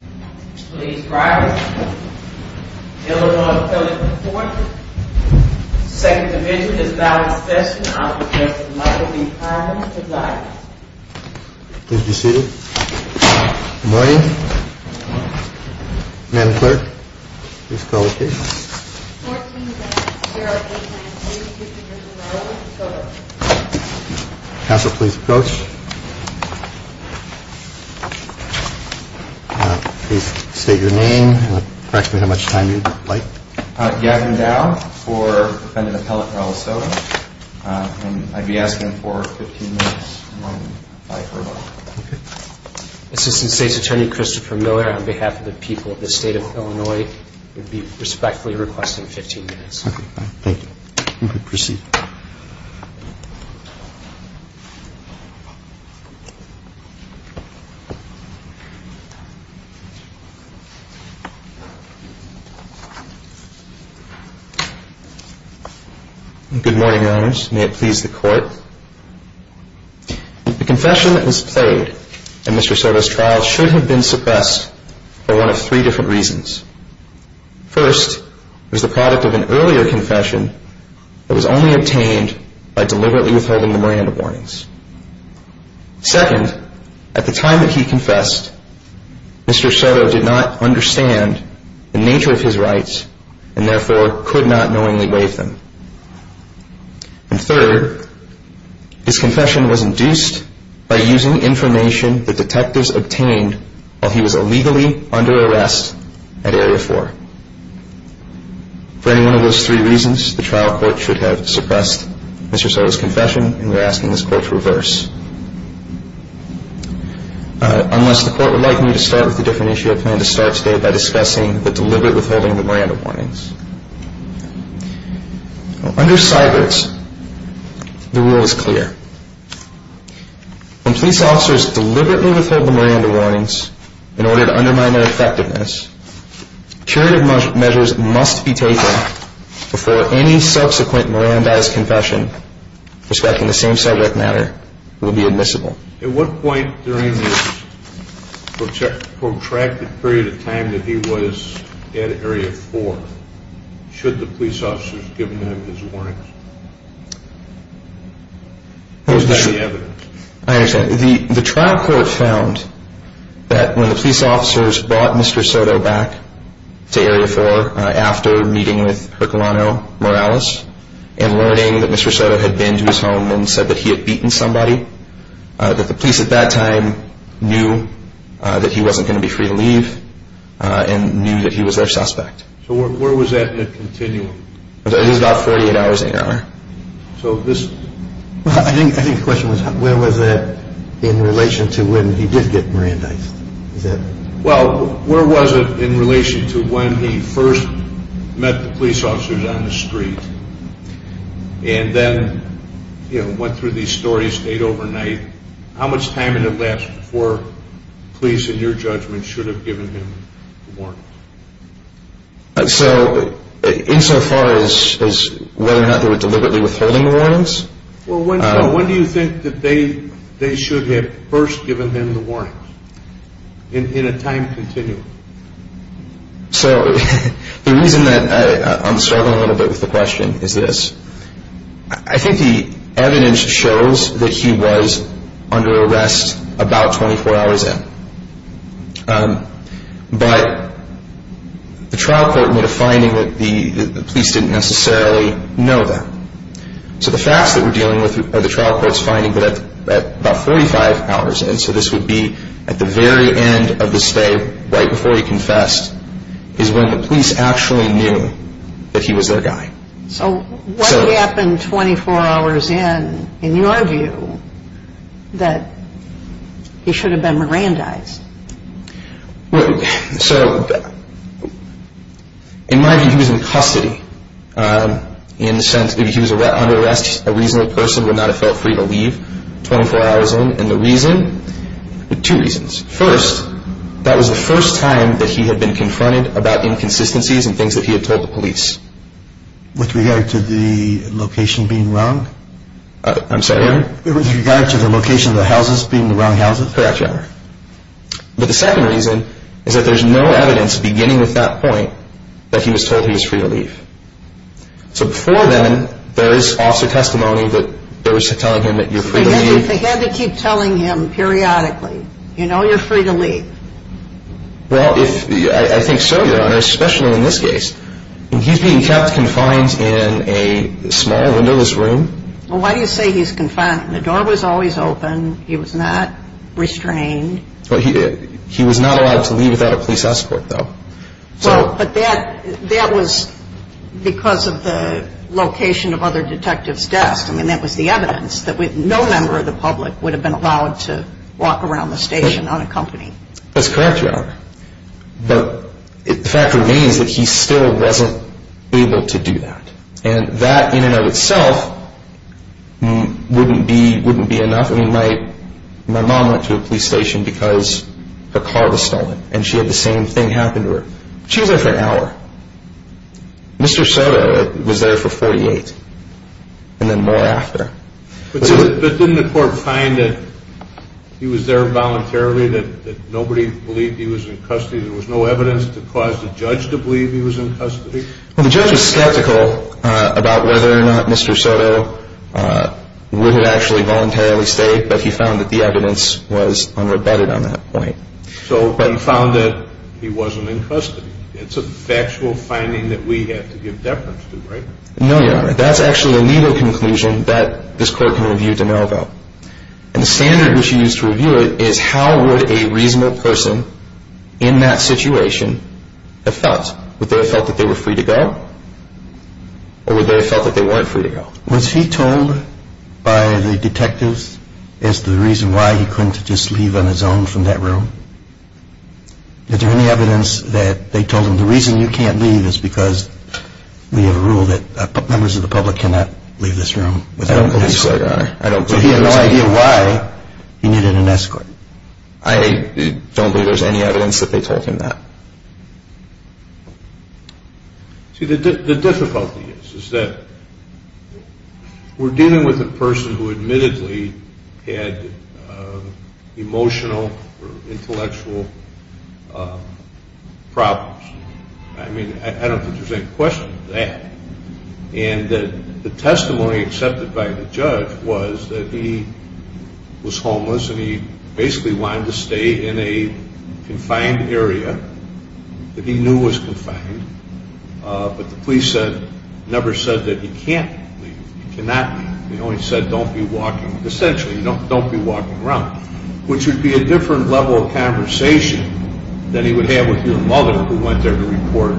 p.m. Second Division is valid... I will express my for the problem of silence. Mayor, Ma'am and Clerk, please call the case. Council please approach. Please state your name and correct me how much time you would like. Gavin Dow for Defendant Appellate for Alasdair and I would be asking him for 15 minutes. Assistant State's Attorney Christopher Miller on behalf of the people of the State of Illinois would be respectfully requesting 15 minutes. Okay, thank you, you may proceed. Good morning, Your Honors, may it please the Court. The confession that was played in Mr. Soto's trial should have been suppressed for one of three different reasons. First, it was the product of an earlier confession that was only obtained by deliberately withholding the Miranda warnings. Second, at the time that he confessed, Mr. Soto did not understand the nature of his rights and therefore could not knowingly waive them. And third, his confession was induced by using information that detectives obtained while he was illegally under arrest at Area 4. For any one of those three reasons, the trial court should have suppressed Mr. Soto's confession and we are asking this Court to reverse. Unless the Court would like me to start with a different issue, I plan to start today by discussing the deliberate withholding of the Miranda warnings. Under Cybert's, the rule is clear. When police officers deliberately withhold the Miranda warnings in order to undermine their effectiveness, curative measures must be taken before any subsequent Miranda-esque confession respecting the same subject matter will be admissible. At what point during this protracted period of time that he was at Area 4 should the police officers have given him his warnings? What was the evidence? I understand. The trial court found that when the police officers brought Mr. Soto back to Area 4 after meeting with Herculano Morales and learning that Mr. Soto had been to his home and said that he had beaten somebody, that the police at that time knew that he wasn't going to be free to leave and knew that he was their suspect. So where was that in the continuum? It was about 48 hours a day. I think the question was where was that in relation to when he did get Mirandized? Well, where was it in relation to when he first met the police officers on the street and then went through these stories, stayed overnight? How much time did it last before police, in your judgment, should have given him the warnings? So insofar as whether or not they were deliberately withholding the warnings? Well, when do you think that they should have first given him the warnings in a time continuum? So the reason that I'm struggling a little bit with the question is this. I think the evidence shows that he was under arrest about 24 hours in. But the trial court made a finding that the police didn't necessarily know that. So the facts that we're dealing with are the trial court's finding that at about 45 hours in, so this would be at the very end of the stay, right before he confessed, is when the police actually knew that he was their guy. So what happened 24 hours in, in your view, that he should have been Mirandized? So in my view, he was in custody in the sense that if he was under arrest, a reasonable person would not have felt free to leave 24 hours in. And the reason, two reasons. First, that was the first time that he had been confronted about inconsistencies and things that he had told the police. With regard to the location being wrong? I'm sorry? With regard to the location of the houses being the wrong houses? Correct, Your Honor. But the second reason is that there's no evidence beginning with that point that he was told he was free to leave. So before then, there is officer testimony that there was telling him that you're free to leave. So they had to keep telling him periodically, you know you're free to leave. Well, I think so, Your Honor, especially in this case. He's being kept confined in a small windowless room. Well, why do you say he's confined? The door was always open. He was not restrained. He was not allowed to leave without a police escort, though. Well, but that was because of the location of other detectives' desks. I mean, that was the evidence that no member of the public would have been allowed to walk around the station unaccompanied. That's correct, Your Honor. But the fact remains that he still wasn't able to do that. And that in and of itself wouldn't be enough. I mean, my mom went to a police station because her car was stolen, and she had the same thing happen to her. She was there for an hour. Mr. Soto was there for 48, and then more after. But didn't the court find that he was there voluntarily, that nobody believed he was in custody? There was no evidence to cause the judge to believe he was in custody? Well, the judge was skeptical about whether or not Mr. Soto would have actually voluntarily stayed, but he found that the evidence was unrebutted on that point. So he found that he wasn't in custody. It's a factual finding that we have to give deference to, right? No, Your Honor. That's actually a legal conclusion that this court can review de novo. And the standard which you use to review it is how would a reasonable person in that situation have felt Would they have felt that they were free to go? Or would they have felt that they weren't free to go? Was he told by the detectives as to the reason why he couldn't just leave on his own from that room? Is there any evidence that they told him, the reason you can't leave is because we have a rule that members of the public cannot leave this room without an escort? I don't believe so, Your Honor. So he had no idea why he needed an escort? I don't think there's any evidence that they told him that. See, the difficulty is that we're dealing with a person who admittedly had emotional or intellectual problems. I mean, I don't think there's any question of that. And the testimony accepted by the judge was that he was homeless and he basically wanted to stay in a confined area that he knew was confined. But the police never said that he can't leave. He cannot leave. They only said don't be walking. Essentially, don't be walking around, which would be a different level of conversation than he would have with your mother, who went there to report,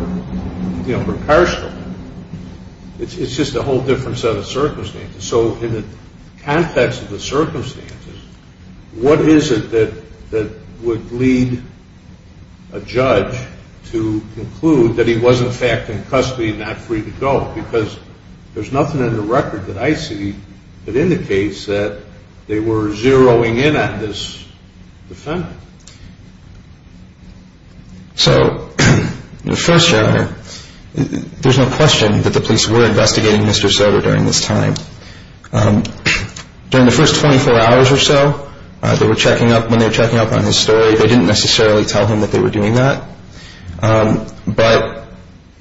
you know, precaution. It's just a whole different set of circumstances. So in the context of the circumstances, what is it that would lead a judge to conclude that he was, in fact, in custody and not free to go? Because there's nothing in the record that I see that indicates that they were zeroing in on this defendant. So the first judge, there's no question that the police were investigating Mr. Soder during this time. During the first 24 hours or so, when they were checking up on his story, they didn't necessarily tell him that they were doing that. But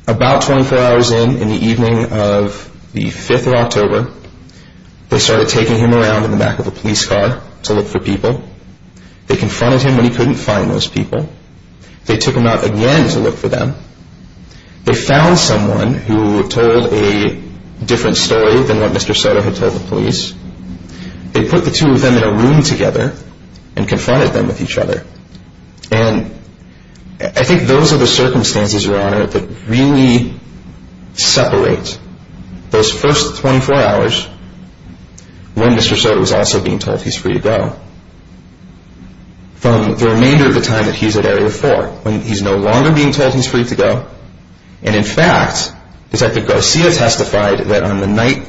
about 24 hours in, in the evening of the 5th of October, they started taking him around in the back of a police car to look for people. They confronted him when he couldn't find those people. They took him out again to look for them. They found someone who told a different story than what Mr. Soder had told the police. They put the two of them in a room together and confronted them with each other. And I think those are the circumstances, Your Honor, that really separate those first 24 hours when Mr. Soder was also being told he's free to go. From the remainder of the time that he's at Area 4, when he's no longer being told he's free to go. And in fact, Detective Garcia testified that on the night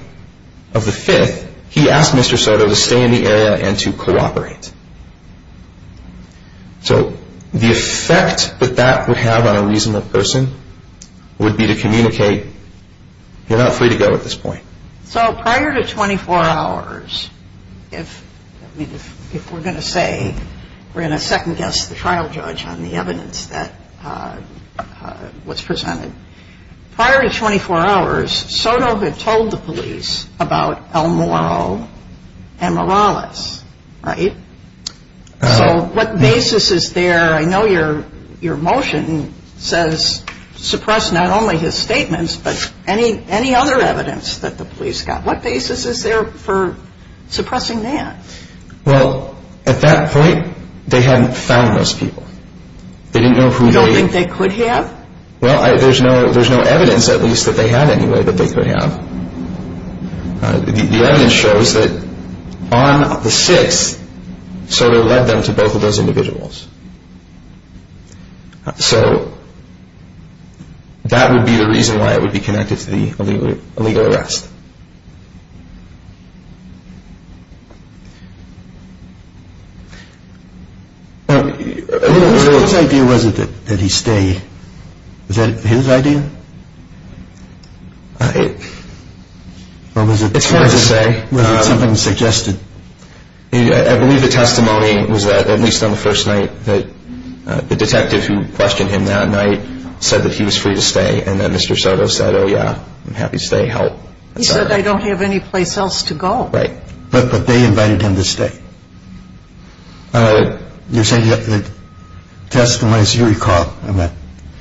of the 5th, he asked Mr. Soder to stay in the area and to cooperate. So the effect that that would have on a reasonable person would be to communicate, you're not free to go at this point. So prior to 24 hours, if we're going to say we're going to second-guess the trial judge on the evidence that was presented, prior to 24 hours, Soder had told the police about El Moro and Morales, right? So what basis is there? I know your motion says suppress not only his statements, but any other evidence that the police got. What basis is there for suppressing that? Well, at that point, they hadn't found those people. You don't think they could have? Well, there's no evidence, at least, that they had anyway that they could have. The evidence shows that on the 6th, Soder led them to both of those individuals. So that would be the reason why it would be connected to the illegal arrest. His idea wasn't that he stay. Was that his idea? It's hard to say. Was it something suggested? I believe the testimony was that, at least on the first night, that the detective who questioned him that night said that he was free to stay, and that Mr. Soder said, oh, yeah, I'm happy to stay, help. He said, I don't have any place else to go. Right. But they invited him to stay. You're saying that the testimony is your recall of that?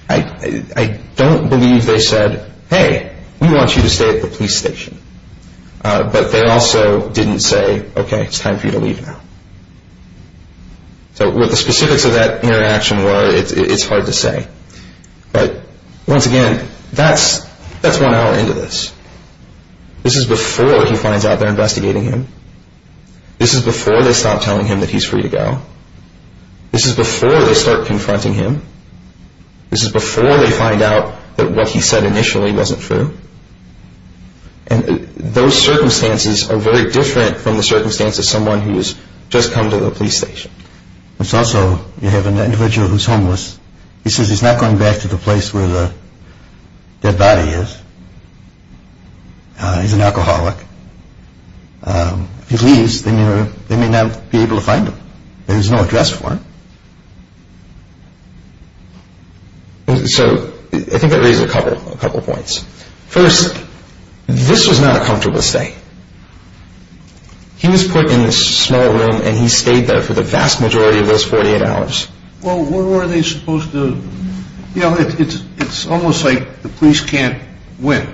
I don't believe they said, hey, we want you to stay at the police station. But they also didn't say, okay, it's time for you to leave now. So what the specifics of that interaction were, it's hard to say. But, once again, that's one hour into this. This is before he finds out they're investigating him. This is before they stop telling him that he's free to go. This is before they start confronting him. This is before they find out that what he said initially wasn't true. And those circumstances are very different from the circumstances of someone who's just come to the police station. It's also, you have an individual who's homeless. He says he's not going back to the place where the dead body is. He's an alcoholic. If he leaves, they may not be able to find him. There's no address for him. So I think that raises a couple points. First, this was not a comfortable stay. He was put in this small room, and he stayed there for the vast majority of those 48 hours. Well, where were they supposed to, you know, it's almost like the police can't win.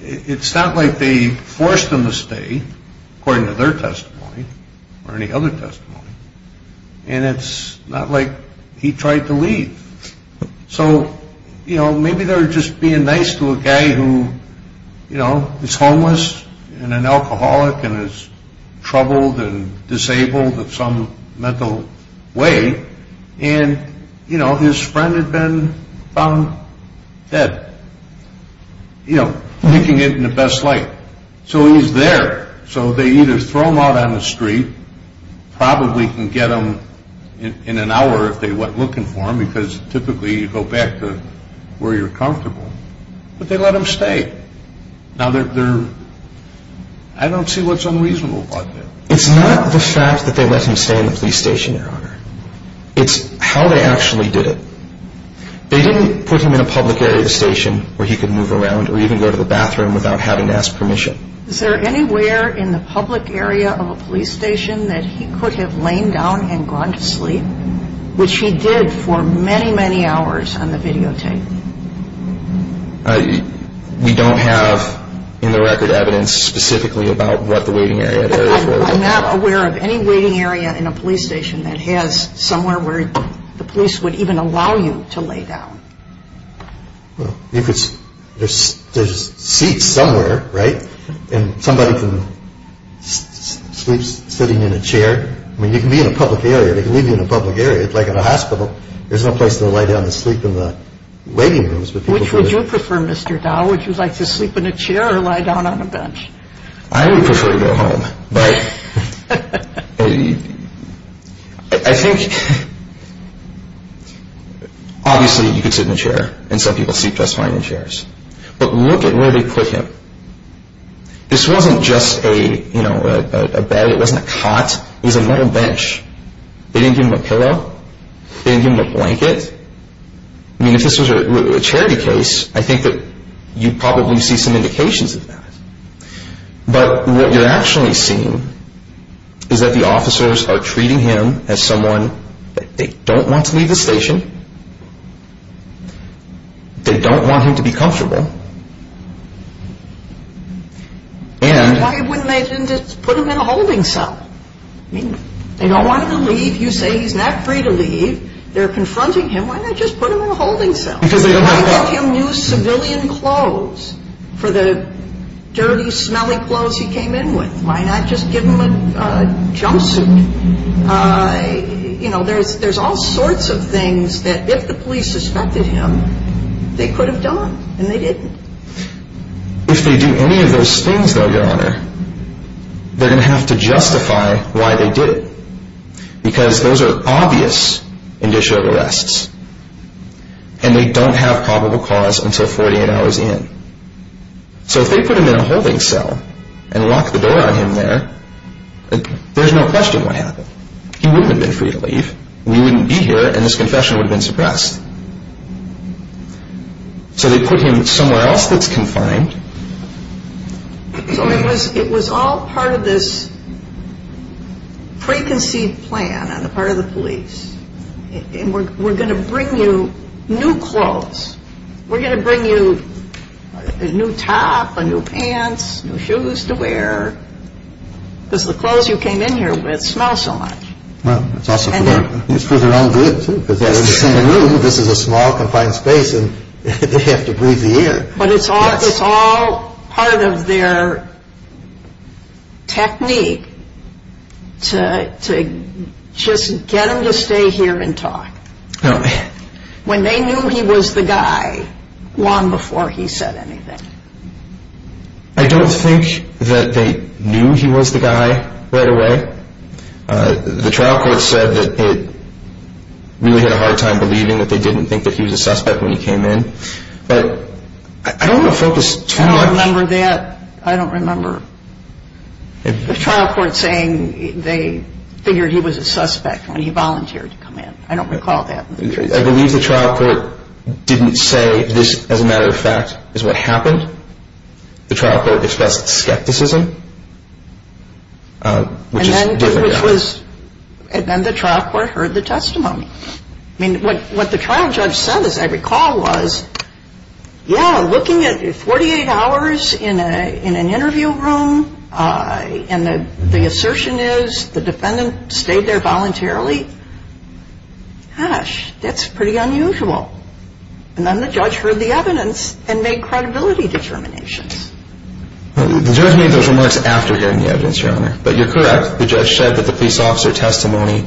It's not like they forced him to stay, according to their testimony, or any other testimony. And it's not like he tried to leave. So, you know, maybe they were just being nice to a guy who, you know, is homeless and an alcoholic and is troubled and disabled in some mental way. And, you know, his friend had been found dead. You know, making it in the best light. So he's there. So they either throw him out on the street, probably can get him in an hour if they went looking for him, because typically you go back to where you're comfortable. But they let him stay. Now, I don't see what's unreasonable about that. It's not the fact that they let him stay in the police station, Your Honor. It's how they actually did it. They didn't put him in a public area of the station where he could move around or even go to the bathroom without having to ask permission. Is there anywhere in the public area of a police station that he could have lain down and gone to sleep, which he did for many, many hours on the videotape? We don't have in the record evidence specifically about what the waiting area is. I'm not aware of any waiting area in a police station that has somewhere where the police would even allow you to lay down. Well, there's seats somewhere, right? And somebody can sleep sitting in a chair. I mean, you can be in a public area. There's no place to lay down to sleep in the waiting rooms. Which would you prefer, Mr. Dow? Would you like to sleep in a chair or lie down on a bench? I would prefer to go home. I think obviously you could sit in a chair, and some people sleep just fine in chairs. But look at where they put him. This wasn't just a bed. It wasn't a cot. It was a metal bench. They didn't give him a pillow. They didn't give him a blanket. I mean, if this was a charity case, I think that you'd probably see some indications of that. But what you're actually seeing is that the officers are treating him as someone that they don't want to leave the station. They don't want him to be comfortable. And why wouldn't they just put him in a holding cell? I mean, they don't want him to leave. You say he's not free to leave. They're confronting him. Why not just put him in a holding cell? Why not give him new civilian clothes for the dirty, smelly clothes he came in with? Why not just give him a jumpsuit? You know, there's all sorts of things that if the police suspected him, they could have done. And they didn't. If they do any of those things, though, Your Honor, they're going to have to justify why they did it. Because those are obvious indicia of arrests. And they don't have probable cause until 48 hours in. So if they put him in a holding cell and locked the door on him there, there's no question what happened. He wouldn't have been free to leave. He wouldn't be here, and his confession would have been suppressed. So they put him somewhere else that's confined. So it was all part of this preconceived plan on the part of the police. And we're going to bring you new clothes. We're going to bring you a new top, a new pants, new shoes to wear. Because the clothes you came in here with smell so much. Well, it's also for their own good, too, because they're in the same room. This is a small, confined space, and they have to breathe the air. But it's all part of their technique to just get him to stay here and talk. When they knew he was the guy long before he said anything. I don't think that they knew he was the guy right away. The trial court said that it really had a hard time believing that they didn't think that he was a suspect when he came in. But I don't want to focus too much. I don't remember that. I don't remember the trial court saying they figured he was a suspect when he volunteered to come in. I don't recall that. I believe the trial court didn't say this, as a matter of fact, is what happened. The trial court expressed skepticism. And then the trial court heard the testimony. I mean, what the trial judge said, as I recall, was, yeah, looking at 48 hours in an interview room, and the assertion is the defendant stayed there voluntarily, gosh, that's pretty unusual. And then the judge heard the evidence and made credibility determinations. The judge made those remarks after hearing the evidence, Your Honor. But you're correct. The judge said that the police officer testimony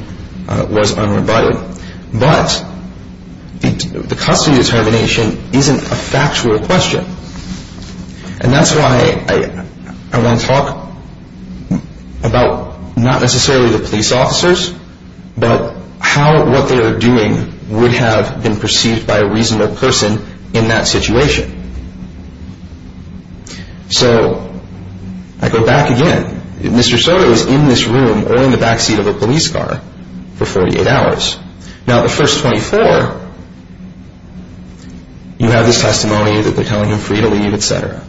was unrebutted. But the custody determination isn't a factual question. And that's why I want to talk about not necessarily the police officers, but how what they are doing would have been perceived by a reasonable person in that situation. So I go back again. Mr. Soto is in this room or in the backseat of a police car for 48 hours. Now, the first 24, you have this testimony that they're telling him for you to leave, et cetera.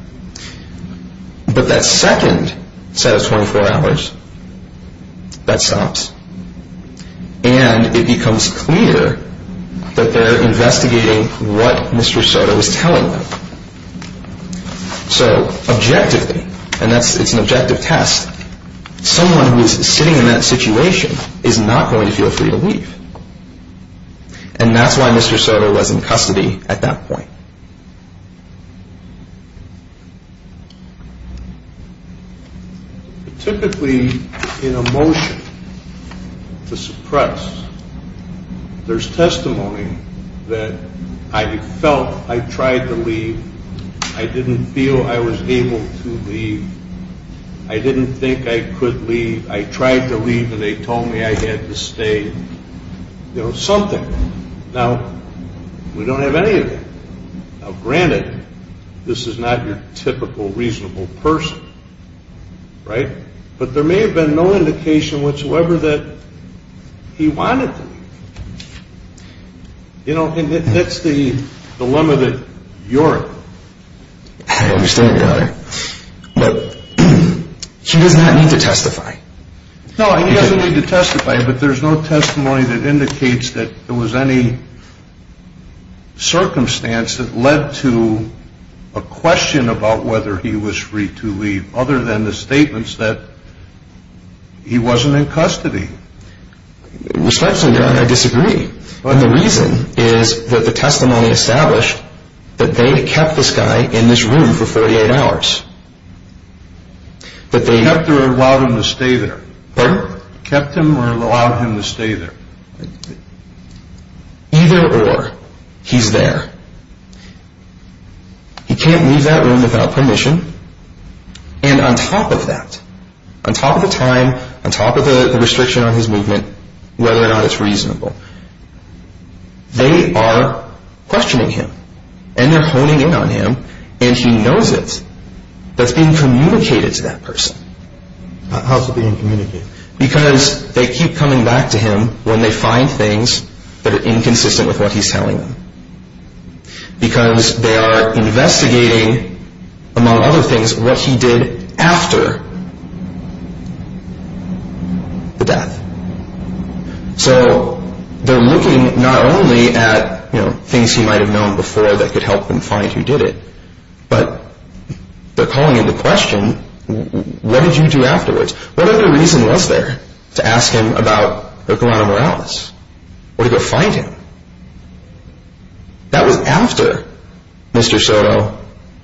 But that second set of 24 hours, that stops, and it becomes clear that they're investigating what Mr. Soto is telling them. So objectively, and it's an objective test, someone who is sitting in that situation is not going to feel free to leave. And that's why Mr. Soto was in custody at that point. Typically, in a motion to suppress, there's testimony that I felt I tried to leave. I didn't feel I was able to leave. I didn't think I could leave. I tried to leave, and they told me I had to stay, you know, something. Now, we don't have any of that. Now, granted, this is not your typical reasonable person, right? But there may have been no indication whatsoever that he wanted to leave. You know, and that's the dilemma that you're in. I understand, Your Honor. But he does not need to testify. No, he doesn't need to testify, but there's no testimony that indicates that there was any circumstance that led to a question about whether he was free to leave other than the statements that he wasn't in custody. Respectfully, Your Honor, I disagree. And the reason is that the testimony established that they kept this guy in this room for 48 hours. They kept him or allowed him to stay there? Pardon? Kept him or allowed him to stay there? Either or, he's there. He can't leave that room without permission. And on top of that, on top of the time, on top of the restriction on his movement, whether or not it's reasonable, they are questioning him. And they're honing in on him, and he knows it. That's being communicated to that person. How's it being communicated? Because they keep coming back to him when they find things that are inconsistent with what he's telling them. Because they are investigating, among other things, what he did after the death. So they're looking not only at things he might have known before that could help them find who did it, but they're calling into question, what did you do afterwards? What other reason was there to ask him about Guerrero Morales? Or to go find him? That was after Mr. Soto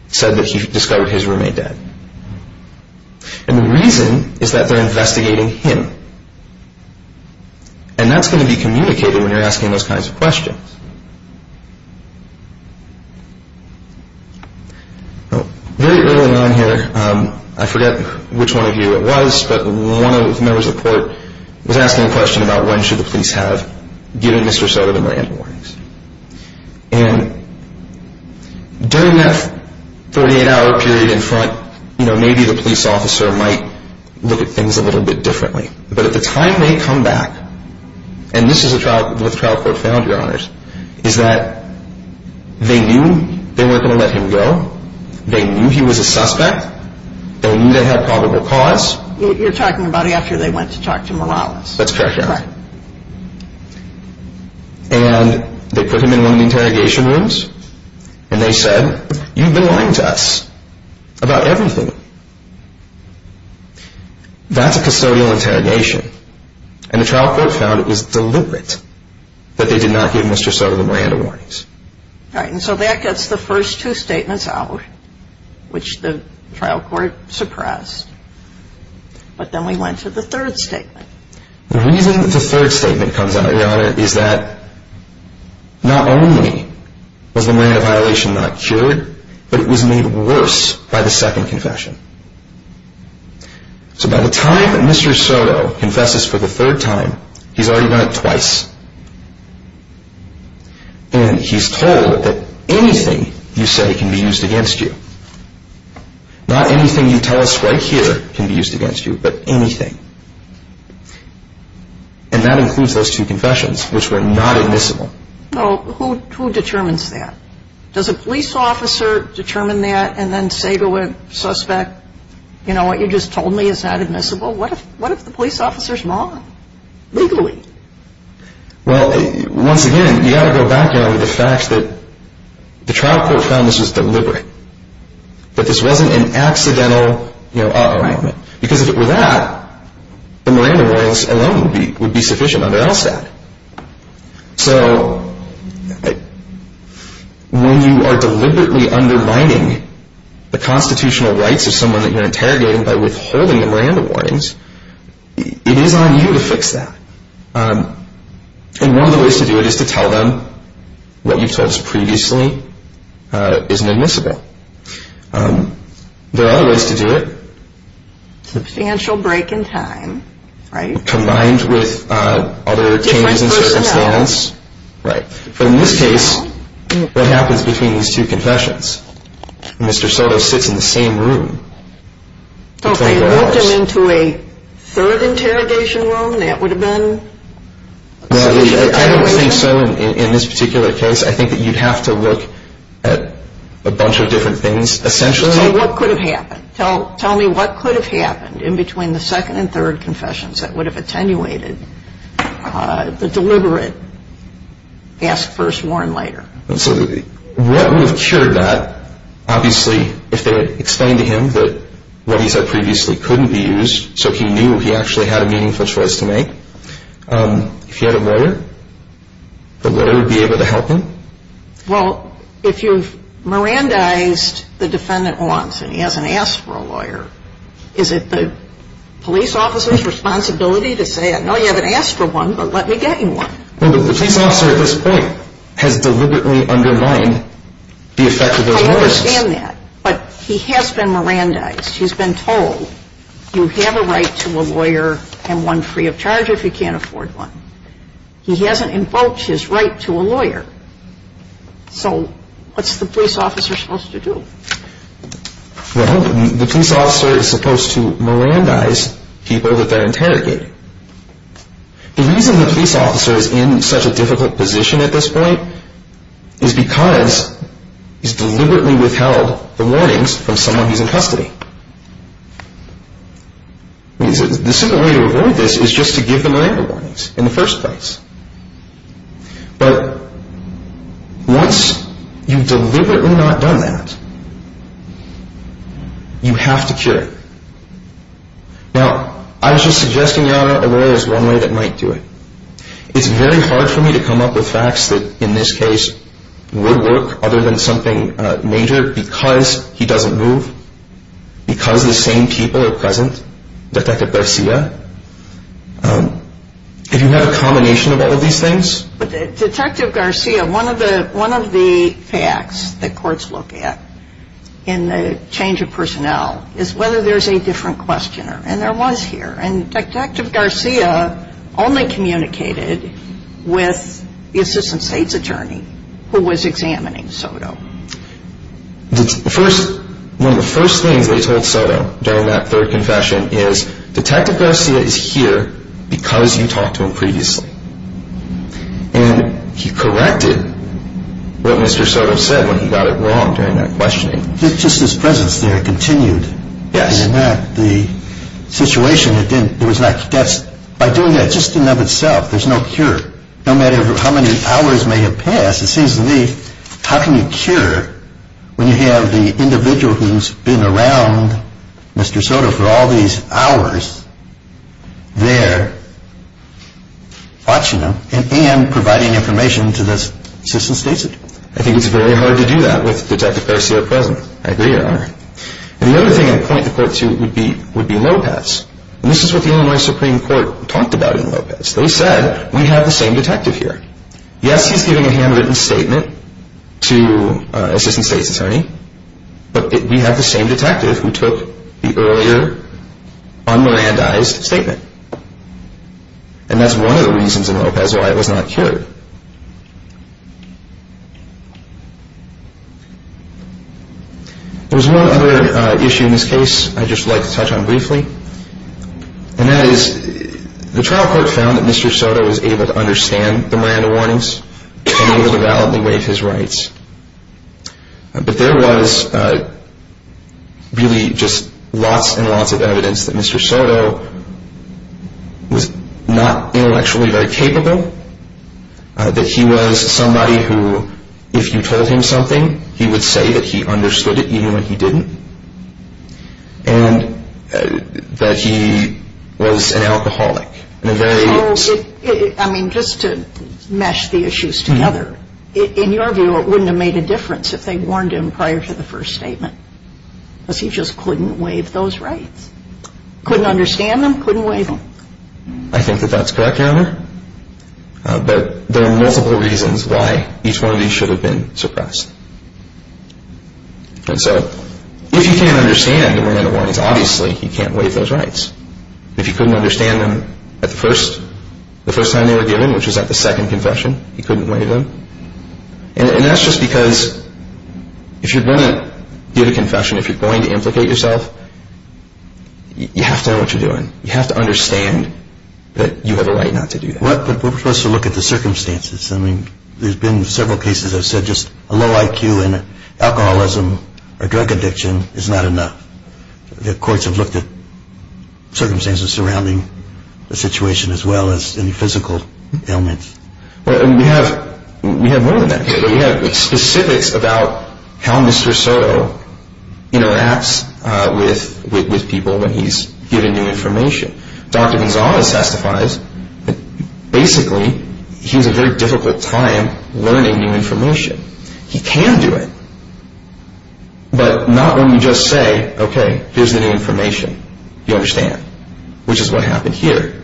said that he discovered his roommate dead. And the reason is that they're investigating him. And that's going to be communicated when you're asking those kinds of questions. Very early on here, I forget which one of you it was, but one of the members of the court was asking a question about when should the police have given Mr. Soto the Miranda warnings. And during that 38-hour period in front, maybe the police officer might look at things a little bit differently. But at the time they come back, and this is what the trial court found, Your Honors, is that they knew they weren't going to let him go. They knew he was a suspect. They knew they had probable cause. You're talking about after they went to talk to Morales. That's correct, Your Honor. And they put him in one of the interrogation rooms, and they said, you've been lying to us about everything. That's a custodial interrogation. And the trial court found it was deliberate that they did not give Mr. Soto the Miranda warnings. All right, and so that gets the first two statements out, which the trial court suppressed. But then we went to the third statement. The reason that the third statement comes out, Your Honor, is that not only was the Miranda violation not cured, but it was made worse by the second confession. So by the time Mr. Soto confesses for the third time, he's already done it twice. And he's told that anything you say can be used against you. Not anything you tell us right here can be used against you, but anything. And that includes those two confessions, which were not admissible. Now, who determines that? Does a police officer determine that and then say to a suspect, you know, what you just told me is not admissible? What if the police officer's wrong, legally? Well, once again, you've got to go back, Your Honor, to the fact that the trial court found this was deliberate, that this wasn't an accidental, you know, arrangement. Because if it were that, the Miranda warnings alone would be sufficient on their LSAT. So when you are deliberately undermining the constitutional rights of someone that you're interrogating by withholding the Miranda warnings, it is on you to fix that. And one of the ways to do it is to tell them what you've told us previously isn't admissible. There are other ways to do it. Substantial break in time, right? Combined with other changes in circumstance. Different personnel. Right. But in this case, what happens between these two confessions? Mr. Soto sits in the same room. So if they locked him into a third interrogation room, that would have been? I don't think so in this particular case. I think that you'd have to look at a bunch of different things. Essentially, what could have happened? Tell me what could have happened in between the second and third confessions that would have attenuated the deliberate ask first, warn later? So what would have cured that? Obviously, if they had explained to him that what he said previously couldn't be used, so he knew he actually had a meaningful choice to make. If he had a lawyer, the lawyer would be able to help him? Well, if you've Mirandized the defendant once and he hasn't asked for a lawyer, is it the police officer's responsibility to say, I know you haven't asked for one, but let me get you one? Well, the police officer at this point has deliberately undermined the effect of those warnings. I understand that, but he has been Mirandized. He's been told, you have a right to a lawyer and one free of charge if you can't afford one. He hasn't invoked his right to a lawyer. So what's the police officer supposed to do? Well, the police officer is supposed to Mirandize people that they're interrogating. The reason the police officer is in such a difficult position at this point is because he's deliberately withheld the warnings from someone who's in custody. The simple way to avoid this is just to give them Miranda warnings in the first place. But once you've deliberately not done that, you have to cure it. Now, I was just suggesting a lawyer is one way that might do it. It's very hard for me to come up with facts that, in this case, would work other than something major because he doesn't move, because the same people are present, Detective Garcia. If you have a combination of all of these things. Detective Garcia, one of the facts that courts look at in the change of personnel is whether there's a different questioner, and there was here. And Detective Garcia only communicated with the assistant state's attorney who was examining Soto. One of the first things they told Soto during that third confession is, Detective Garcia is here because you talked to him previously. And he corrected what Mr. Soto said when he got it wrong during that questioning. Just his presence there continued. Yes. And in that, the situation, by doing that, just in and of itself, there's no cure. No matter how many hours may have passed, it seems to me, how can you cure when you have the individual who's been around Mr. Soto for all these hours there watching him and providing information to this assistant state's attorney? I think it's very hard to do that with Detective Garcia present. I agree, Your Honor. And the other thing I'd point the court to would be Lopez. And this is what the Illinois Supreme Court talked about in Lopez. They said, we have the same detective here. Yes, he's giving a handwritten statement to assistant state's attorney, but we have the same detective who took the earlier un-Mirandized statement. And that's one of the reasons in Lopez why it was not cured. There's one other issue in this case I'd just like to touch on briefly, and that is the trial court found that Mr. Soto was able to understand the Miranda warnings and was able to validly waive his rights. But there was really just lots and lots of evidence that Mr. Soto was not intellectually very capable, that he was somebody who, if you told him something, he would say that he understood it even when he didn't, and that he was an alcoholic. I mean, just to mesh the issues together, in your view, it wouldn't have made a difference if they warned him prior to the first statement, because he just couldn't waive those rights. Couldn't understand them, couldn't waive them. I think that that's correct, Your Honor. But there are multiple reasons why each one of these should have been suppressed. And so if you can't understand the Miranda warnings, obviously you can't waive those rights. If you couldn't understand them the first time they were given, which was at the second confession, you couldn't waive them. And that's just because if you're going to give a confession, if you're going to implicate yourself, you have to know what you're doing. You have to understand that you have a right not to do that. But we're supposed to look at the circumstances. I mean, there's been several cases I've said just a low IQ and alcoholism or drug addiction is not enough. The courts have looked at circumstances surrounding the situation as well as any physical ailments. And we have more than that. We have specifics about how Mr. Soto interacts with people when he's giving new information. Dr. Gonzales testifies that basically he has a very difficult time learning new information. He can do it. But not when you just say, okay, here's the new information. You understand, which is what happened here.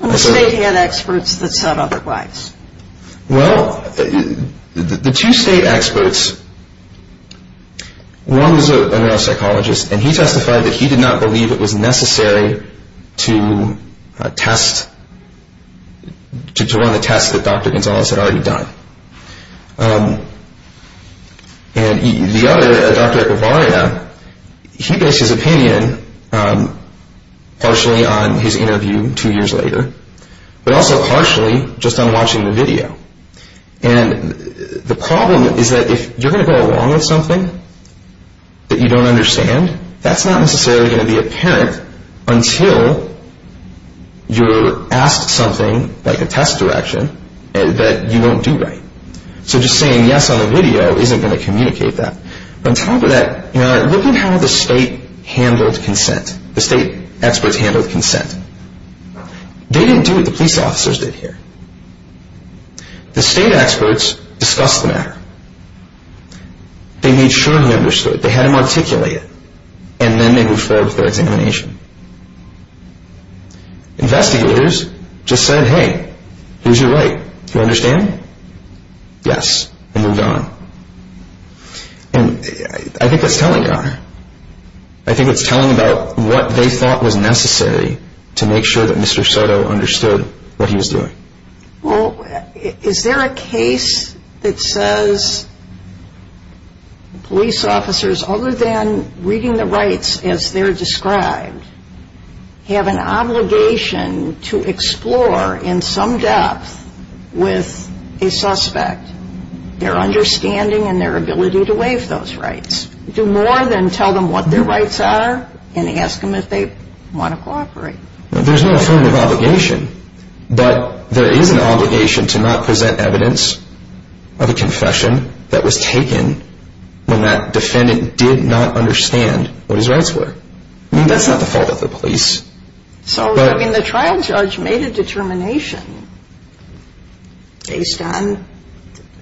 And the state had experts that said otherwise. Well, the two state experts, one was a neuropsychologist, and he testified that he did not believe it was necessary to run a test that Dr. Gonzales had already done. And the other, Dr. Echevarria, he based his opinion partially on his interview two years later, but also partially just on watching the video. And the problem is that if you're going to go along with something that you don't understand, that's not necessarily going to be apparent until you're asked something like a test direction that you don't do right. So just saying yes on the video isn't going to communicate that. On top of that, look at how the state handled consent. The state experts handled consent. They didn't do what the police officers did here. The state experts discussed the matter. They made sure he understood. They had him articulate it. And then they moved forward with their examination. Investigators just said, hey, here's your right. Do you understand? Yes, and moved on. And I think that's telling, Connor. I think it's telling about what they thought was necessary to make sure that Mr. Soto understood what he was doing. Well, is there a case that says police officers, other than reading the rights as they're described, have an obligation to explore in some depth with a suspect their understanding and their ability to waive those rights? Do more than tell them what their rights are and ask them if they want to cooperate. There's no affirmative obligation. But there is an obligation to not present evidence of a confession that was taken when that defendant did not understand what his rights were. I mean, that's not the fault of the police. So, I mean, the trial judge made a determination based on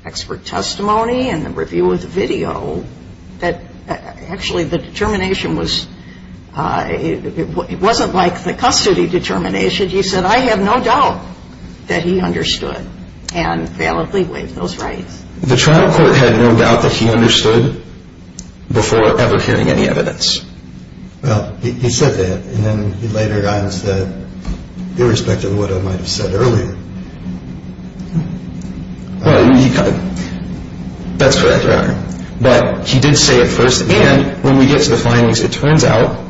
expert testimony and the review of the video that actually the determination was, it wasn't like the custody determination. He said, I have no doubt that he understood and validly waived those rights. The trial court had no doubt that he understood before ever hearing any evidence. Well, he said that. And then he later on said, irrespective of what I might have said earlier, that's correct, Your Honor. But he did say it first. And when we get to the findings, it turns out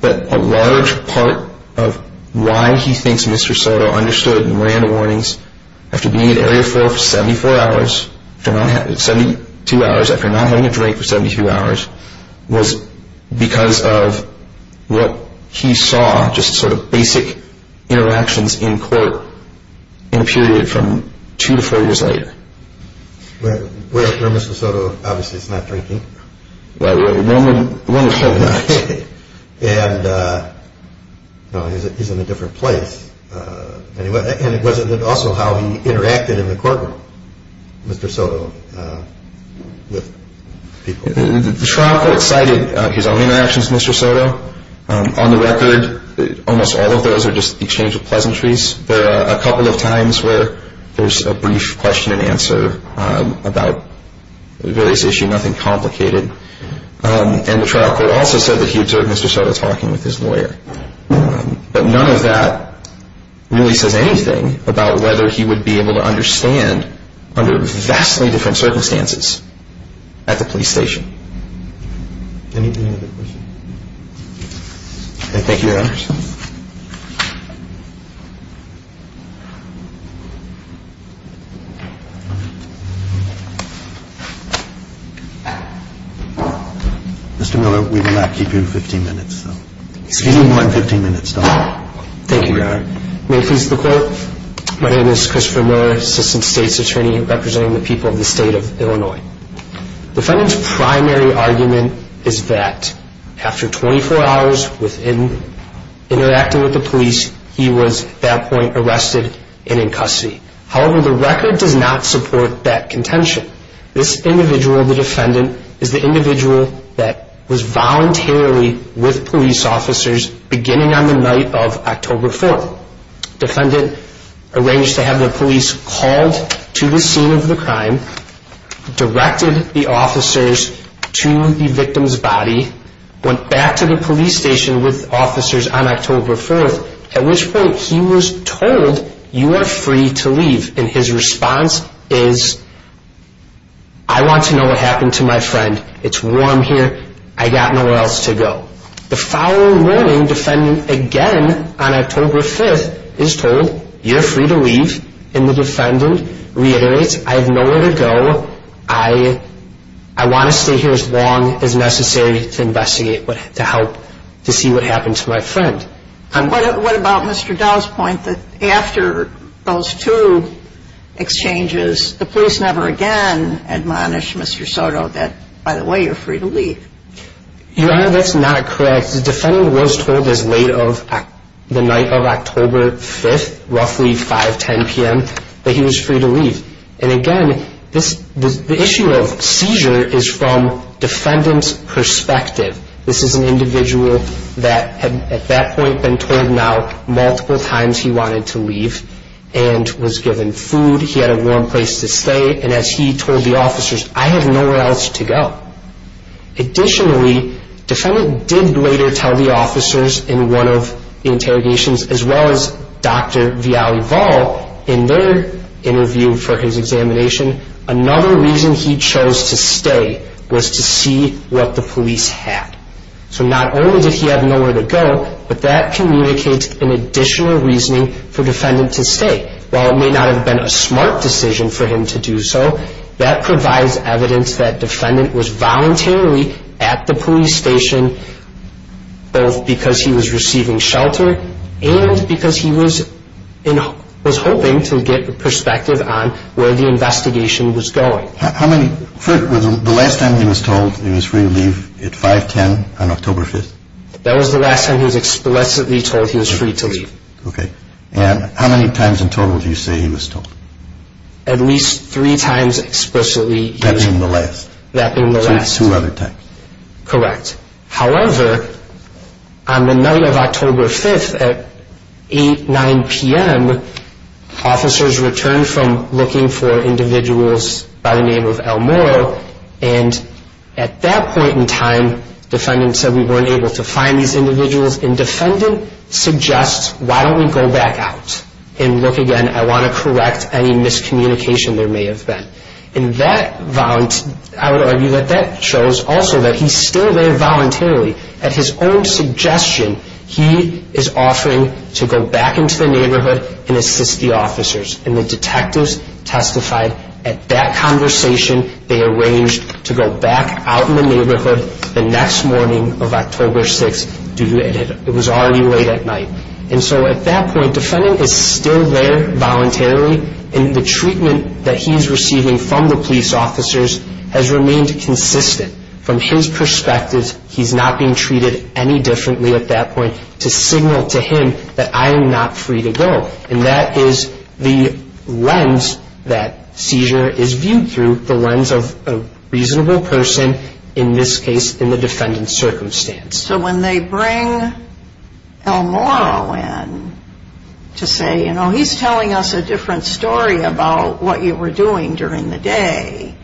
that a large part of why he thinks Mr. Soto understood and ran the warnings after being in Area 4 for 72 hours, after not having a drink for 72 hours, was because of what he saw, just sort of basic interactions in court in a period from two to four years later. Well, for Mr. Soto, obviously, it's not drinking. Well, one would hope not. And, no, he's in a different place. And it was also how he interacted in the courtroom, Mr. Soto, with people. The trial court cited his own interactions with Mr. Soto. On the record, almost all of those are just exchange of pleasantries. There are a couple of times where there's a brief question and answer about various issues, nothing complicated. And the trial court also said that he observed Mr. Soto talking with his lawyer. But none of that really says anything about whether he would be able to understand, under vastly different circumstances, at the police station. Any other questions? Thank you, Your Honors. Mr. Miller, we will not keep you 15 minutes. Excuse me, I'm 15 minutes down. Thank you, Your Honor. May it please the Court, my name is Christopher Miller, Assistant State's Attorney, representing the people of the state of Illinois. Defendant's primary argument is that after 24 hours interacting with the police, he was, at that point, arrested and in custody. However, the record does not support that contention. This individual, the defendant, is the individual that was voluntarily with police officers beginning on the night of October 4th. Defendant arranged to have the police called to the scene of the crime, directed the officers to the victim's body, went back to the police station with officers on October 4th, at which point he was told, you are free to leave. And his response is, I want to know what happened to my friend. It's warm here. I got nowhere else to go. The following morning, defendant, again on October 5th, is told, you're free to leave. And the defendant reiterates, I have nowhere to go. I want to stay here as long as necessary to investigate, to help to see what happened to my friend. What about Mr. Dow's point that after those two exchanges, the police never again admonished Mr. Soto that, by the way, you're free to leave? Your Honor, that's not correct. The defendant was told as late of the night of October 5th, roughly 5, 10 p.m., that he was free to leave. And, again, the issue of seizure is from defendant's perspective. This is an individual that had at that point been told now multiple times he wanted to leave and was given food. He had a warm place to stay. And as he told the officers, I have nowhere else to go. Additionally, defendant did later tell the officers in one of the interrogations, as well as Dr. Viale-Vall in their interview for his examination, another reason he chose to stay was to see what the police had. So not only did he have nowhere to go, but that communicates an additional reasoning for defendant to stay. While it may not have been a smart decision for him to do so, that provides evidence that defendant was voluntarily at the police station both because he was receiving shelter and because he was hoping to get perspective on where the investigation was going. How many, the last time he was told he was free to leave at 5, 10 on October 5th? That was the last time he was explicitly told he was free to leave. Okay. And how many times in total do you say he was told? At least three times explicitly he was told. That being the last? That being the last. Two other times. Correct. However, on the night of October 5th at 8, 9 p.m., officers returned from looking for individuals by the name of El Moro. And at that point in time, defendant said we weren't able to find these individuals. And defendant suggests, why don't we go back out and look again. I want to correct any miscommunication there may have been. I would argue that that shows also that he's still there voluntarily. At his own suggestion, he is offering to go back into the neighborhood and assist the officers. And the detectives testified at that conversation. They arranged to go back out in the neighborhood the next morning of October 6th. It was already late at night. And so at that point, defendant is still there voluntarily. And the treatment that he's receiving from the police officers has remained consistent. From his perspective, he's not being treated any differently at that point to signal to him that I am not free to go. And that is the lens that seizure is viewed through, the lens of a reasonable person in this case in the defendant's circumstance. So when they bring El Moro in to say, you know, he's telling us a different story about what you were doing during the day,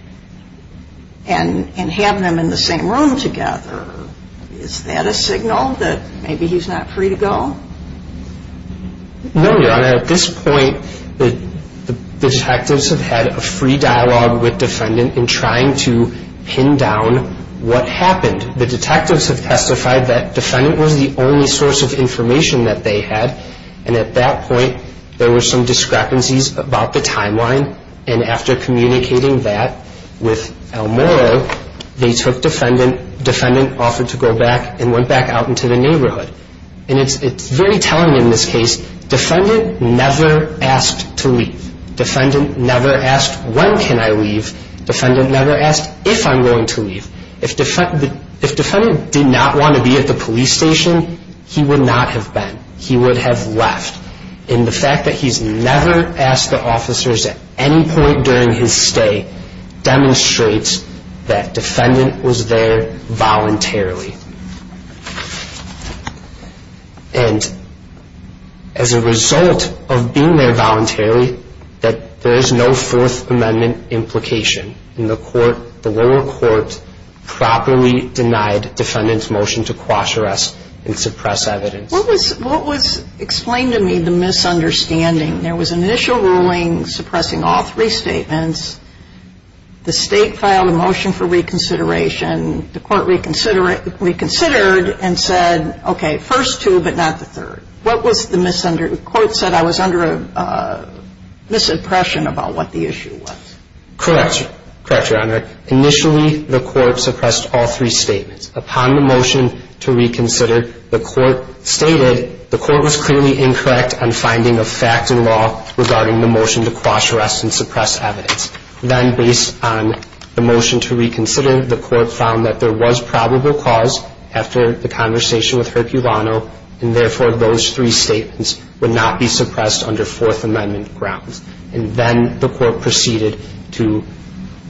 and have them in the same room together, is that a signal that maybe he's not free to go? No, Your Honor. At this point, the detectives have had a free dialogue with defendant in trying to pin down what happened. And the detectives have testified that defendant was the only source of information that they had. And at that point, there were some discrepancies about the timeline. And after communicating that with El Moro, they took defendant, defendant offered to go back and went back out into the neighborhood. And it's very telling in this case. Defendant never asked to leave. Defendant never asked, when can I leave? Defendant never asked if I'm going to leave. If defendant did not want to be at the police station, he would not have been. He would have left. And the fact that he's never asked the officers at any point during his stay demonstrates that defendant was there voluntarily. And as a result of being there voluntarily, there is no Fourth Amendment implication in the lower court properly denied defendant's motion to quash arrest and suppress evidence. What was explained to me the misunderstanding? There was an initial ruling suppressing all three statements. The state filed a motion for reconsideration. The court reconsidered and said, okay, first two but not the third. What was the misunderstanding? The court said I was under a misimpression about what the issue was. Correct, Your Honor. Initially, the court suppressed all three statements. Upon the motion to reconsider, the court stated the court was clearly incorrect on finding a fact in law regarding the motion to quash arrest and suppress evidence. Then based on the motion to reconsider, the court found that there was probable cause after the conversation with Herculano, and therefore those three statements would not be suppressed under Fourth Amendment grounds. And then the court proceeded to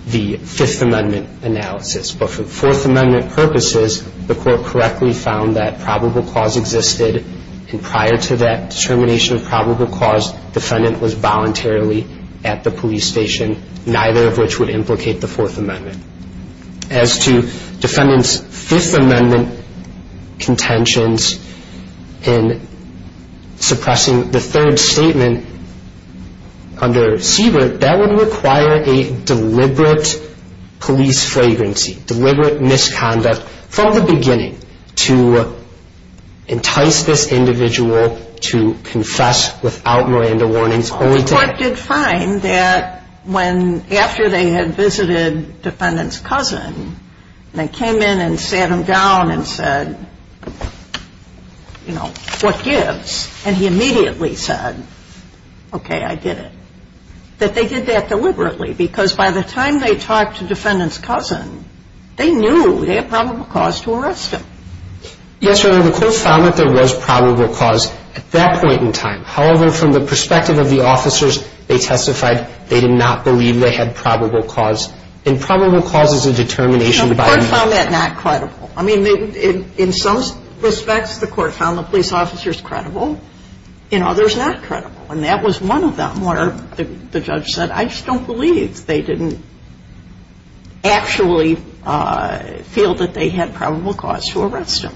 the Fifth Amendment analysis. But for Fourth Amendment purposes, the court correctly found that probable cause existed, and prior to that determination of probable cause, defendant was voluntarily at the police station, neither of which would implicate the Fourth Amendment. As to defendant's Fifth Amendment contentions in suppressing the third statement under Siebert, that would require a deliberate police flagrancy, deliberate misconduct from the beginning to entice this individual to confess without Miranda warnings. The court did find that after they had visited defendant's cousin, they came in and sat him down and said, you know, what gives? And he immediately said, okay, I did it. That they did that deliberately because by the time they talked to defendant's cousin, they knew they had probable cause to arrest him. Yes, Your Honor, the court found that there was probable cause at that point in time. However, from the perspective of the officers, they testified they did not believe they had probable cause. And probable cause is a determination by a man. No, the court found that not credible. I mean, in some respects, the court found the police officers credible and others not credible. And that was one of them where the judge said, I just don't believe they didn't actually feel that they had probable cause to arrest him.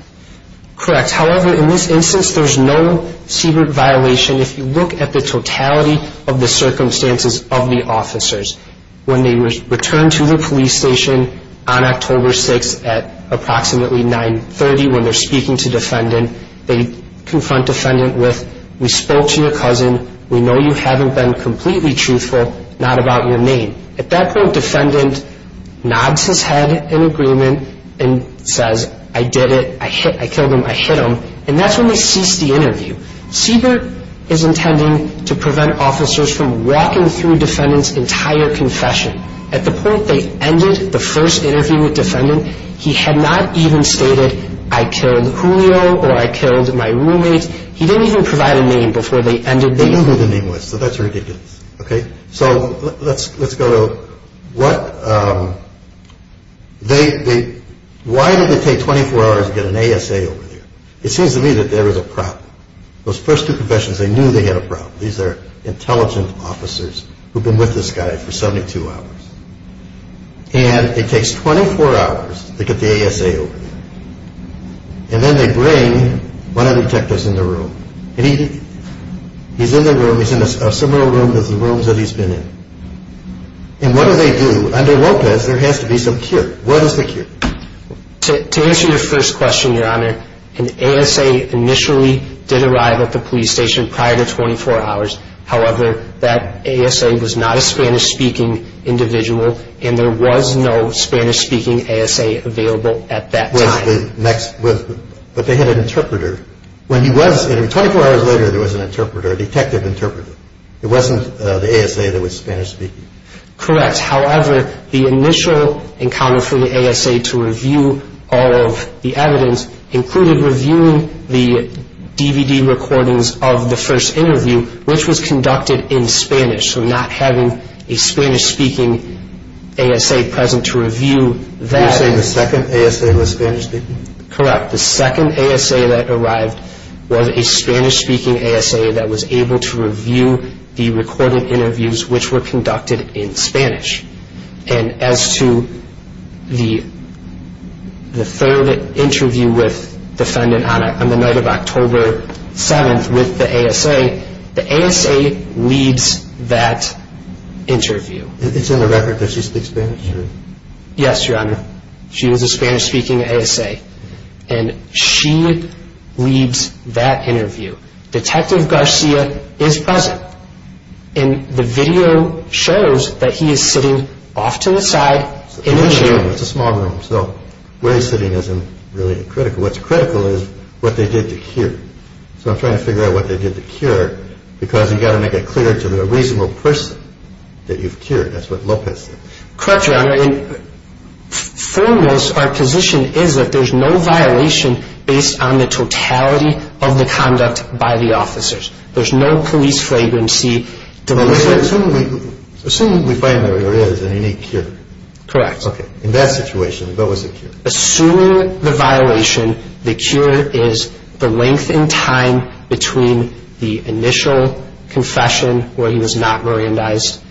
Correct. Yes, however, in this instance, there's no secret violation if you look at the totality of the circumstances of the officers. When they returned to the police station on October 6th at approximately 930, when they're speaking to defendant, they confront defendant with, we spoke to your cousin, we know you haven't been completely truthful, not about your name. At that point, defendant nods his head in agreement and says, I did it, I killed him, I hit him. And that's when they cease the interview. Siebert is intending to prevent officers from walking through defendant's entire confession. At the point they ended the first interview with defendant, he had not even stated, I killed Julio or I killed my roommate. He didn't even provide a name before they ended the interview. They knew who the name was, so that's ridiculous. Okay, so let's go to why did it take 24 hours to get an ASA over there? It seems to me that there is a problem. Those first two confessions, they knew they had a problem. These are intelligent officers who've been with this guy for 72 hours. And it takes 24 hours to get the ASA over there. And then they bring one of the detectives in the room. He's in the room. He's in a similar room to the rooms that he's been in. And what do they do? Under Lopez, there has to be some cure. What is the cure? To answer your first question, Your Honor, an ASA initially did arrive at the police station prior to 24 hours. However, that ASA was not a Spanish-speaking individual, and there was no Spanish-speaking ASA available at that time. But they had an interpreter. When he was interviewed, 24 hours later, there was an interpreter, a detective interpreter. It wasn't the ASA that was Spanish-speaking. Correct. However, the initial encounter for the ASA to review all of the evidence included reviewing the DVD recordings of the first interview, which was conducted in Spanish, so not having a Spanish-speaking ASA present to review that. You're saying the second ASA was Spanish-speaking? Correct. The second ASA that arrived was a Spanish-speaking ASA that was able to review the recorded interviews, which were conducted in Spanish. And as to the third interview with the defendant on the night of October 7th with the ASA, the ASA leads that interview. It's in the record that she speaks Spanish? Yes, Your Honor. She was a Spanish-speaking ASA, and she leads that interview. Detective Garcia is present, and the video shows that he is sitting off to the side in a chair. It's a small room, so where he's sitting isn't really critical. What's critical is what they did to cure. So I'm trying to figure out what they did to cure, because you've got to make it clear to the reasonable person that you've cured. That's what Lopez said. Correct, Your Honor. Foremost, our position is that there's no violation based on the totality of the conduct by the officers. There's no police flagrancy. Assuming the defendant is a unique cure. Correct. Okay. In that situation, what was the cure? Assuming the violation, the cure is the length in time between the initial confession, where he was not Mirandized,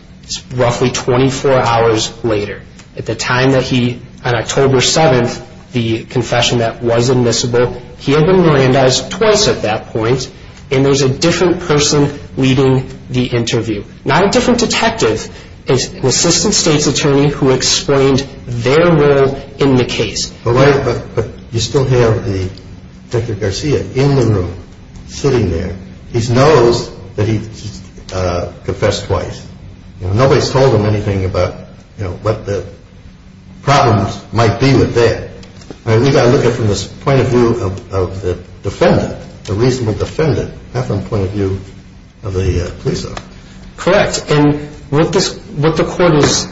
roughly 24 hours later. At the time that he, on October 7th, the confession that was admissible, he had been Mirandized twice at that point, and there's a different person leading the interview. Not a different detective. It's an assistant state's attorney who explained their role in the case. But you still have Detective Garcia in the room, sitting there. He knows that he confessed twice. Nobody's told him anything about what the problems might be with that. We've got to look at it from the point of view of the defendant, the reasonable defendant, not from the point of view of the police officer. Correct. And what the court is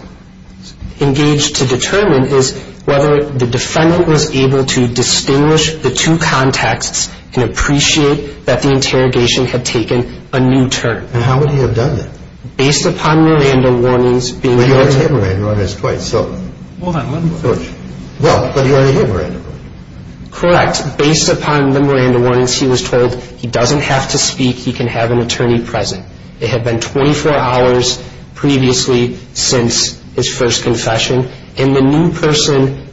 engaged to determine is whether the defendant was able to distinguish the two contacts and appreciate that the interrogation had taken a new turn. And how would he have done that? Based upon Miranda warnings being given to him. But he already had Miranda warnings twice. Well, but he already had Miranda warnings. Correct. Based upon the Miranda warnings, he was told he doesn't have to speak. He can have an attorney present. It had been 24 hours previously since his first confession. And the new person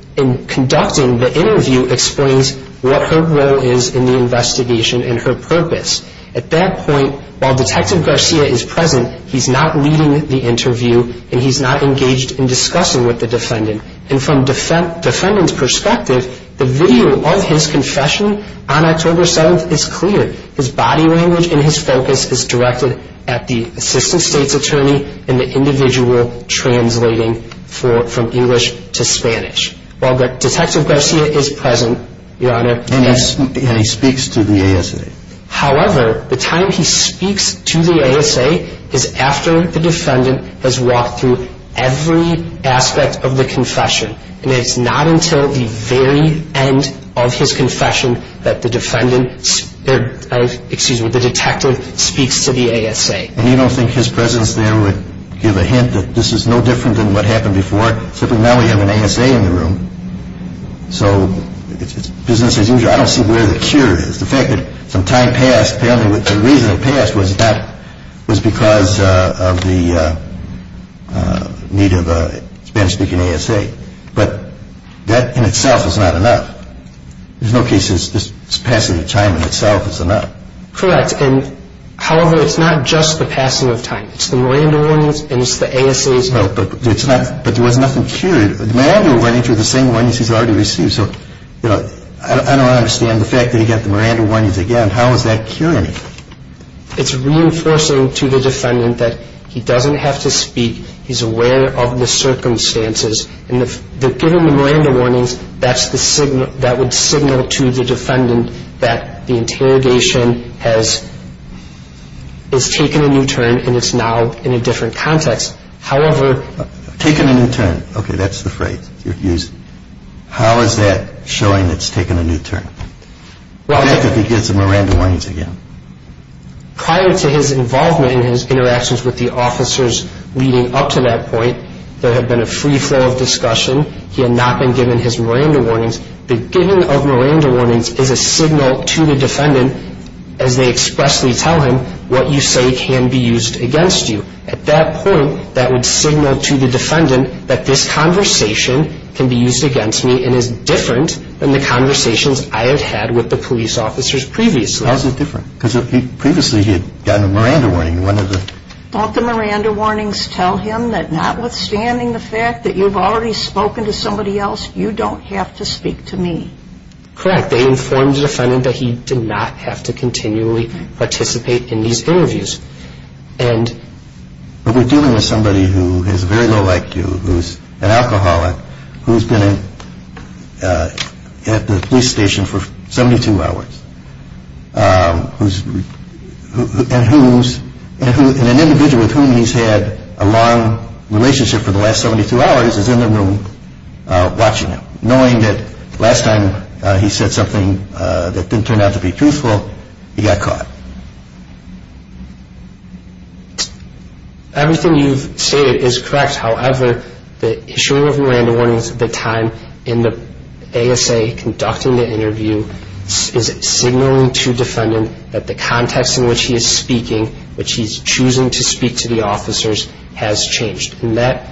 conducting the interview explains what her role is in the investigation and her purpose. At that point, while Detective Garcia is present, he's not leading the interview and he's not engaged in discussing with the defendant. And from the defendant's perspective, the video of his confession on October 7th is clear. His body language and his focus is directed at the assistant state's attorney and the individual translating from English to Spanish. While Detective Garcia is present, Your Honor. And he speaks to the ASA. However, the time he speaks to the ASA is after the defendant has walked through every aspect of the confession. And it's not until the very end of his confession that the defendant, excuse me, the detective speaks to the ASA. And you don't think his presence there would give a hint that this is no different than what happened before? Except that now we have an ASA in the room. So business as usual, I don't see where the cure is. The fact that some time passed, apparently the reason it passed was because of the need of a Spanish-speaking ASA. But that in itself is not enough. There's no case that this passing of time in itself is enough. Correct. And, however, it's not just the passing of time. It's the Miranda warnings and it's the ASA's help. But there was nothing cured. The Miranda warnings were the same warnings he's already received. So, you know, I don't understand the fact that he got the Miranda warnings again. How is that curing him? It's reinforcing to the defendant that he doesn't have to speak. He's aware of the circumstances. And given the Miranda warnings, that would signal to the defendant that the interrogation has taken a new turn and it's now in a different context. Taken a new turn. Okay, that's the phrase you're using. How is that showing it's taken a new turn? What happens if he gets the Miranda warnings again? Prior to his involvement in his interactions with the officers leading up to that point, there had been a free flow of discussion. He had not been given his Miranda warnings. The giving of Miranda warnings is a signal to the defendant as they expressly tell him what you say can be used against you. At that point, that would signal to the defendant that this conversation can be used against me and is different than the conversations I have had with the police officers previously. How is it different? Because previously he had gotten a Miranda warning. Don't the Miranda warnings tell him that notwithstanding the fact that you've already spoken to somebody else, you don't have to speak to me? Correct. They informed the defendant that he did not have to continually participate in these interviews. But we're dealing with somebody who is very low IQ, who's an alcoholic, who's been at the police station for 72 hours, and an individual with whom he's had a long relationship for the last 72 hours is in the room watching him, knowing that last time he said something that didn't turn out to be truthful, he got caught. Everything you've stated is correct. However, the issuing of Miranda warnings at the time in the ASA conducting the interview is signaling to the defendant that the context in which he is speaking, which he's choosing to speak to the officers, has changed. And that,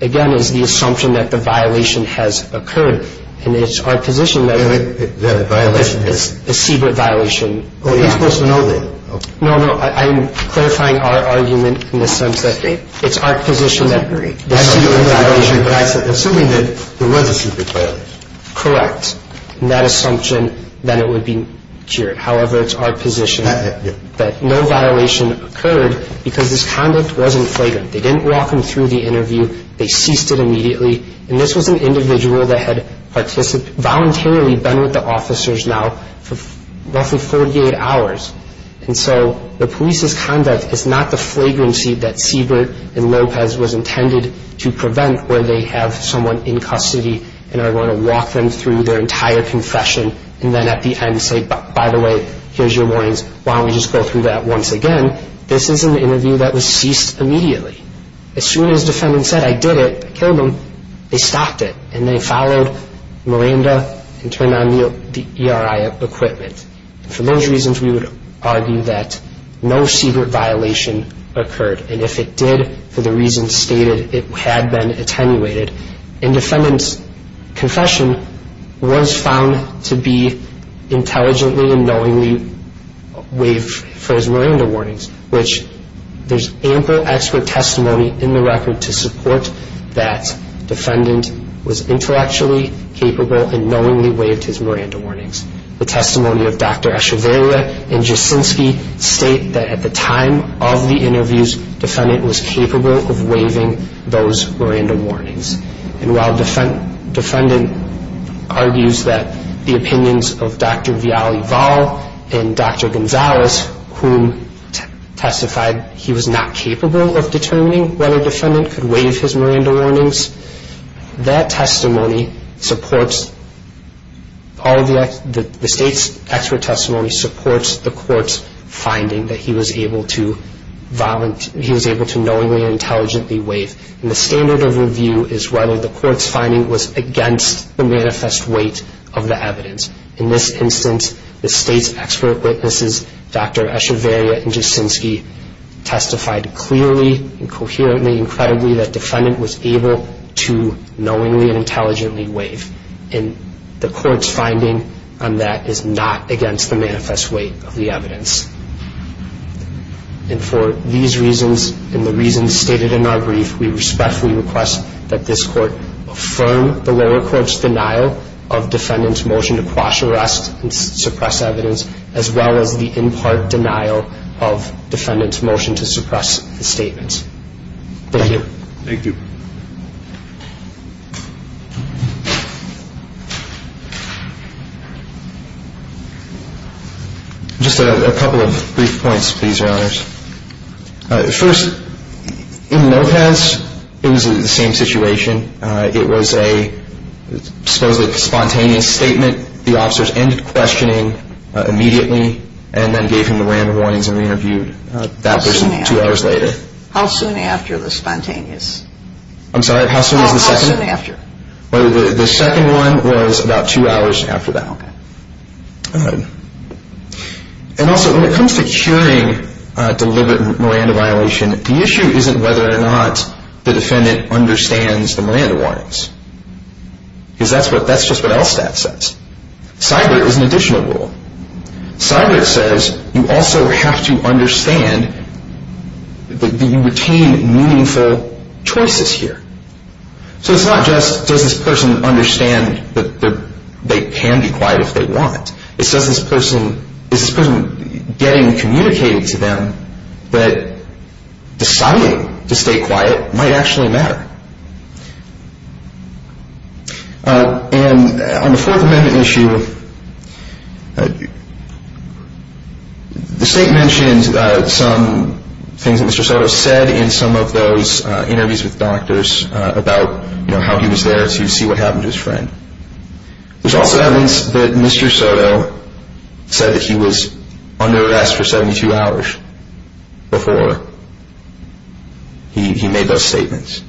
again, is the assumption that the violation has occurred. And it's our position that it's a secret violation. Are you supposed to know that? No, no. I'm clarifying our argument in the sense that it's our position that it's a secret violation. Assuming that there was a secret violation. Correct. And that assumption that it would be cured. However, it's our position that no violation occurred because his conduct wasn't flagrant. They didn't walk him through the interview. They ceased it immediately. And this was an individual that had voluntarily been with the officers now for roughly 48 hours. And so the police's conduct is not the flagrancy that Siebert and Lopez was intended to prevent where they have someone in custody and are going to walk them through their entire confession and then at the end say, by the way, here's your warnings, why don't we just go through that once again. This is an interview that was ceased immediately. As soon as the defendant said, I did it, I killed him, they stopped it. And they followed Miranda and turned on the ERI equipment. For those reasons, we would argue that no secret violation occurred. And if it did, for the reasons stated, it had been attenuated. And defendant's confession was found to be intelligently and knowingly waived for his Miranda warnings, which there's ample expert testimony in the record to support that defendant was intellectually capable and knowingly waived his Miranda warnings. The testimony of Dr. Echevarria and Jasinski state that at the time of the interviews, defendant was capable of waiving those Miranda warnings. And while defendant argues that the opinions of Dr. Viale-Vall and Dr. Gonzalez, who testified he was not capable of determining whether defendant could waive his Miranda warnings, that testimony supports, the state's expert testimony supports the court's finding that he was able to knowingly and intelligently waive. And the standard of review is whether the court's finding was against the manifest weight of the evidence. In this instance, the state's expert witnesses, Dr. Echevarria and Jasinski, testified clearly and coherently and credibly that defendant was able to knowingly and intelligently waive. And the court's finding on that is not against the manifest weight of the evidence. And for these reasons and the reasons stated in our brief, we respectfully request that this court affirm the lower court's denial of defendant's motion to quash arrest and suppress evidence as well as the in part denial of defendant's motion to suppress the statement. Thank you. Thank you. Just a couple of brief points, please, Your Honors. First, in Lopez, it was the same situation. It was a supposedly spontaneous statement. The officers ended questioning immediately and then gave him the Miranda warnings and re-interviewed that person two hours later. How soon after the spontaneous? I'm sorry, how soon was the second? How soon after? The second one was about two hours after that. Okay. And also, when it comes to curing deliberate Miranda violation, the issue isn't whether or not the defendant understands the Miranda warnings, because that's just what LSTAT says. CIDR is an additional rule. CIDR says you also have to understand that you retain meaningful choices here. So it's not just does this person understand that they can be quiet if they want. It says this person is getting communicated to them that deciding to stay quiet might actually matter. And on the Fourth Amendment issue, the State mentioned some things that Mr. Soto said in some of those interviews with doctors about how he was there to see what happened to his friend. There's also evidence that Mr. Soto said that he was under arrest for 72 hours before he made those statements.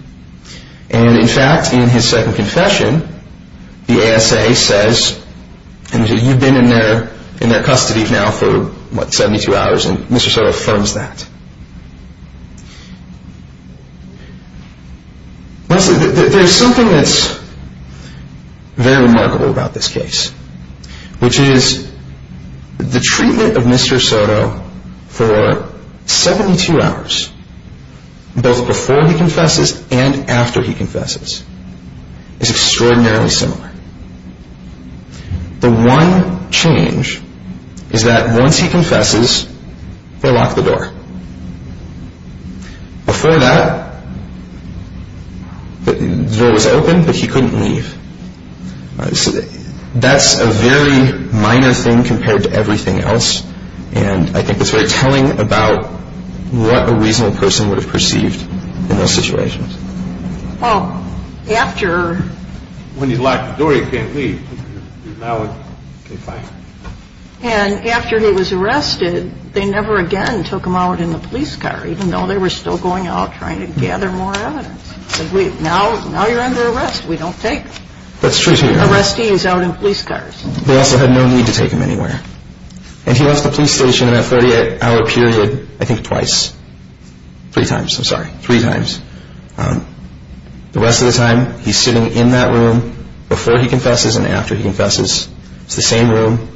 And in fact, in his second confession, the ASA says, you've been in their custody now for 72 hours, and Mr. Soto affirms that. There's something that's very remarkable about this case, which is the treatment of Mr. Soto for 72 hours, both before he confesses and after he confesses, is extraordinarily similar. The one change is that once he confesses, they lock the door. Before that, the door was open, but he couldn't leave. That's a very minor thing compared to everything else, and I think it's very telling about what a reasonable person would have perceived in those situations. Well, after... When he locked the door, he can't leave. And after he was arrested, they never again took him out in the police car, even though they were still going out trying to gather more evidence. Now you're under arrest. We don't take arrestees out in police cars. They also had no need to take him anywhere. And he left the police station in that 48-hour period, I think twice. Three times, I'm sorry. Three times. The rest of the time, he's sitting in that room before he confesses and after he confesses. It's the same room.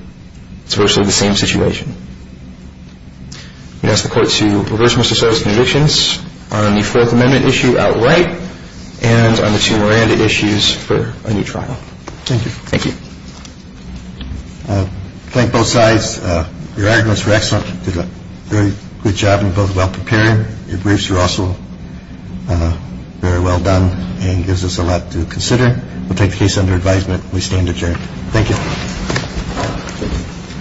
It's virtually the same situation. We ask the Court to reverse Mr. Soto's convictions on the Fourth Amendment issue outright and on the two Miranda issues for a new trial. Thank you. Thank you. Thank both sides. Your arguments were excellent. You did a very good job and both well prepared. Your briefs were also very well done and gives us a lot to consider. We'll take the case under advisement. We stand adjourned. Thank you.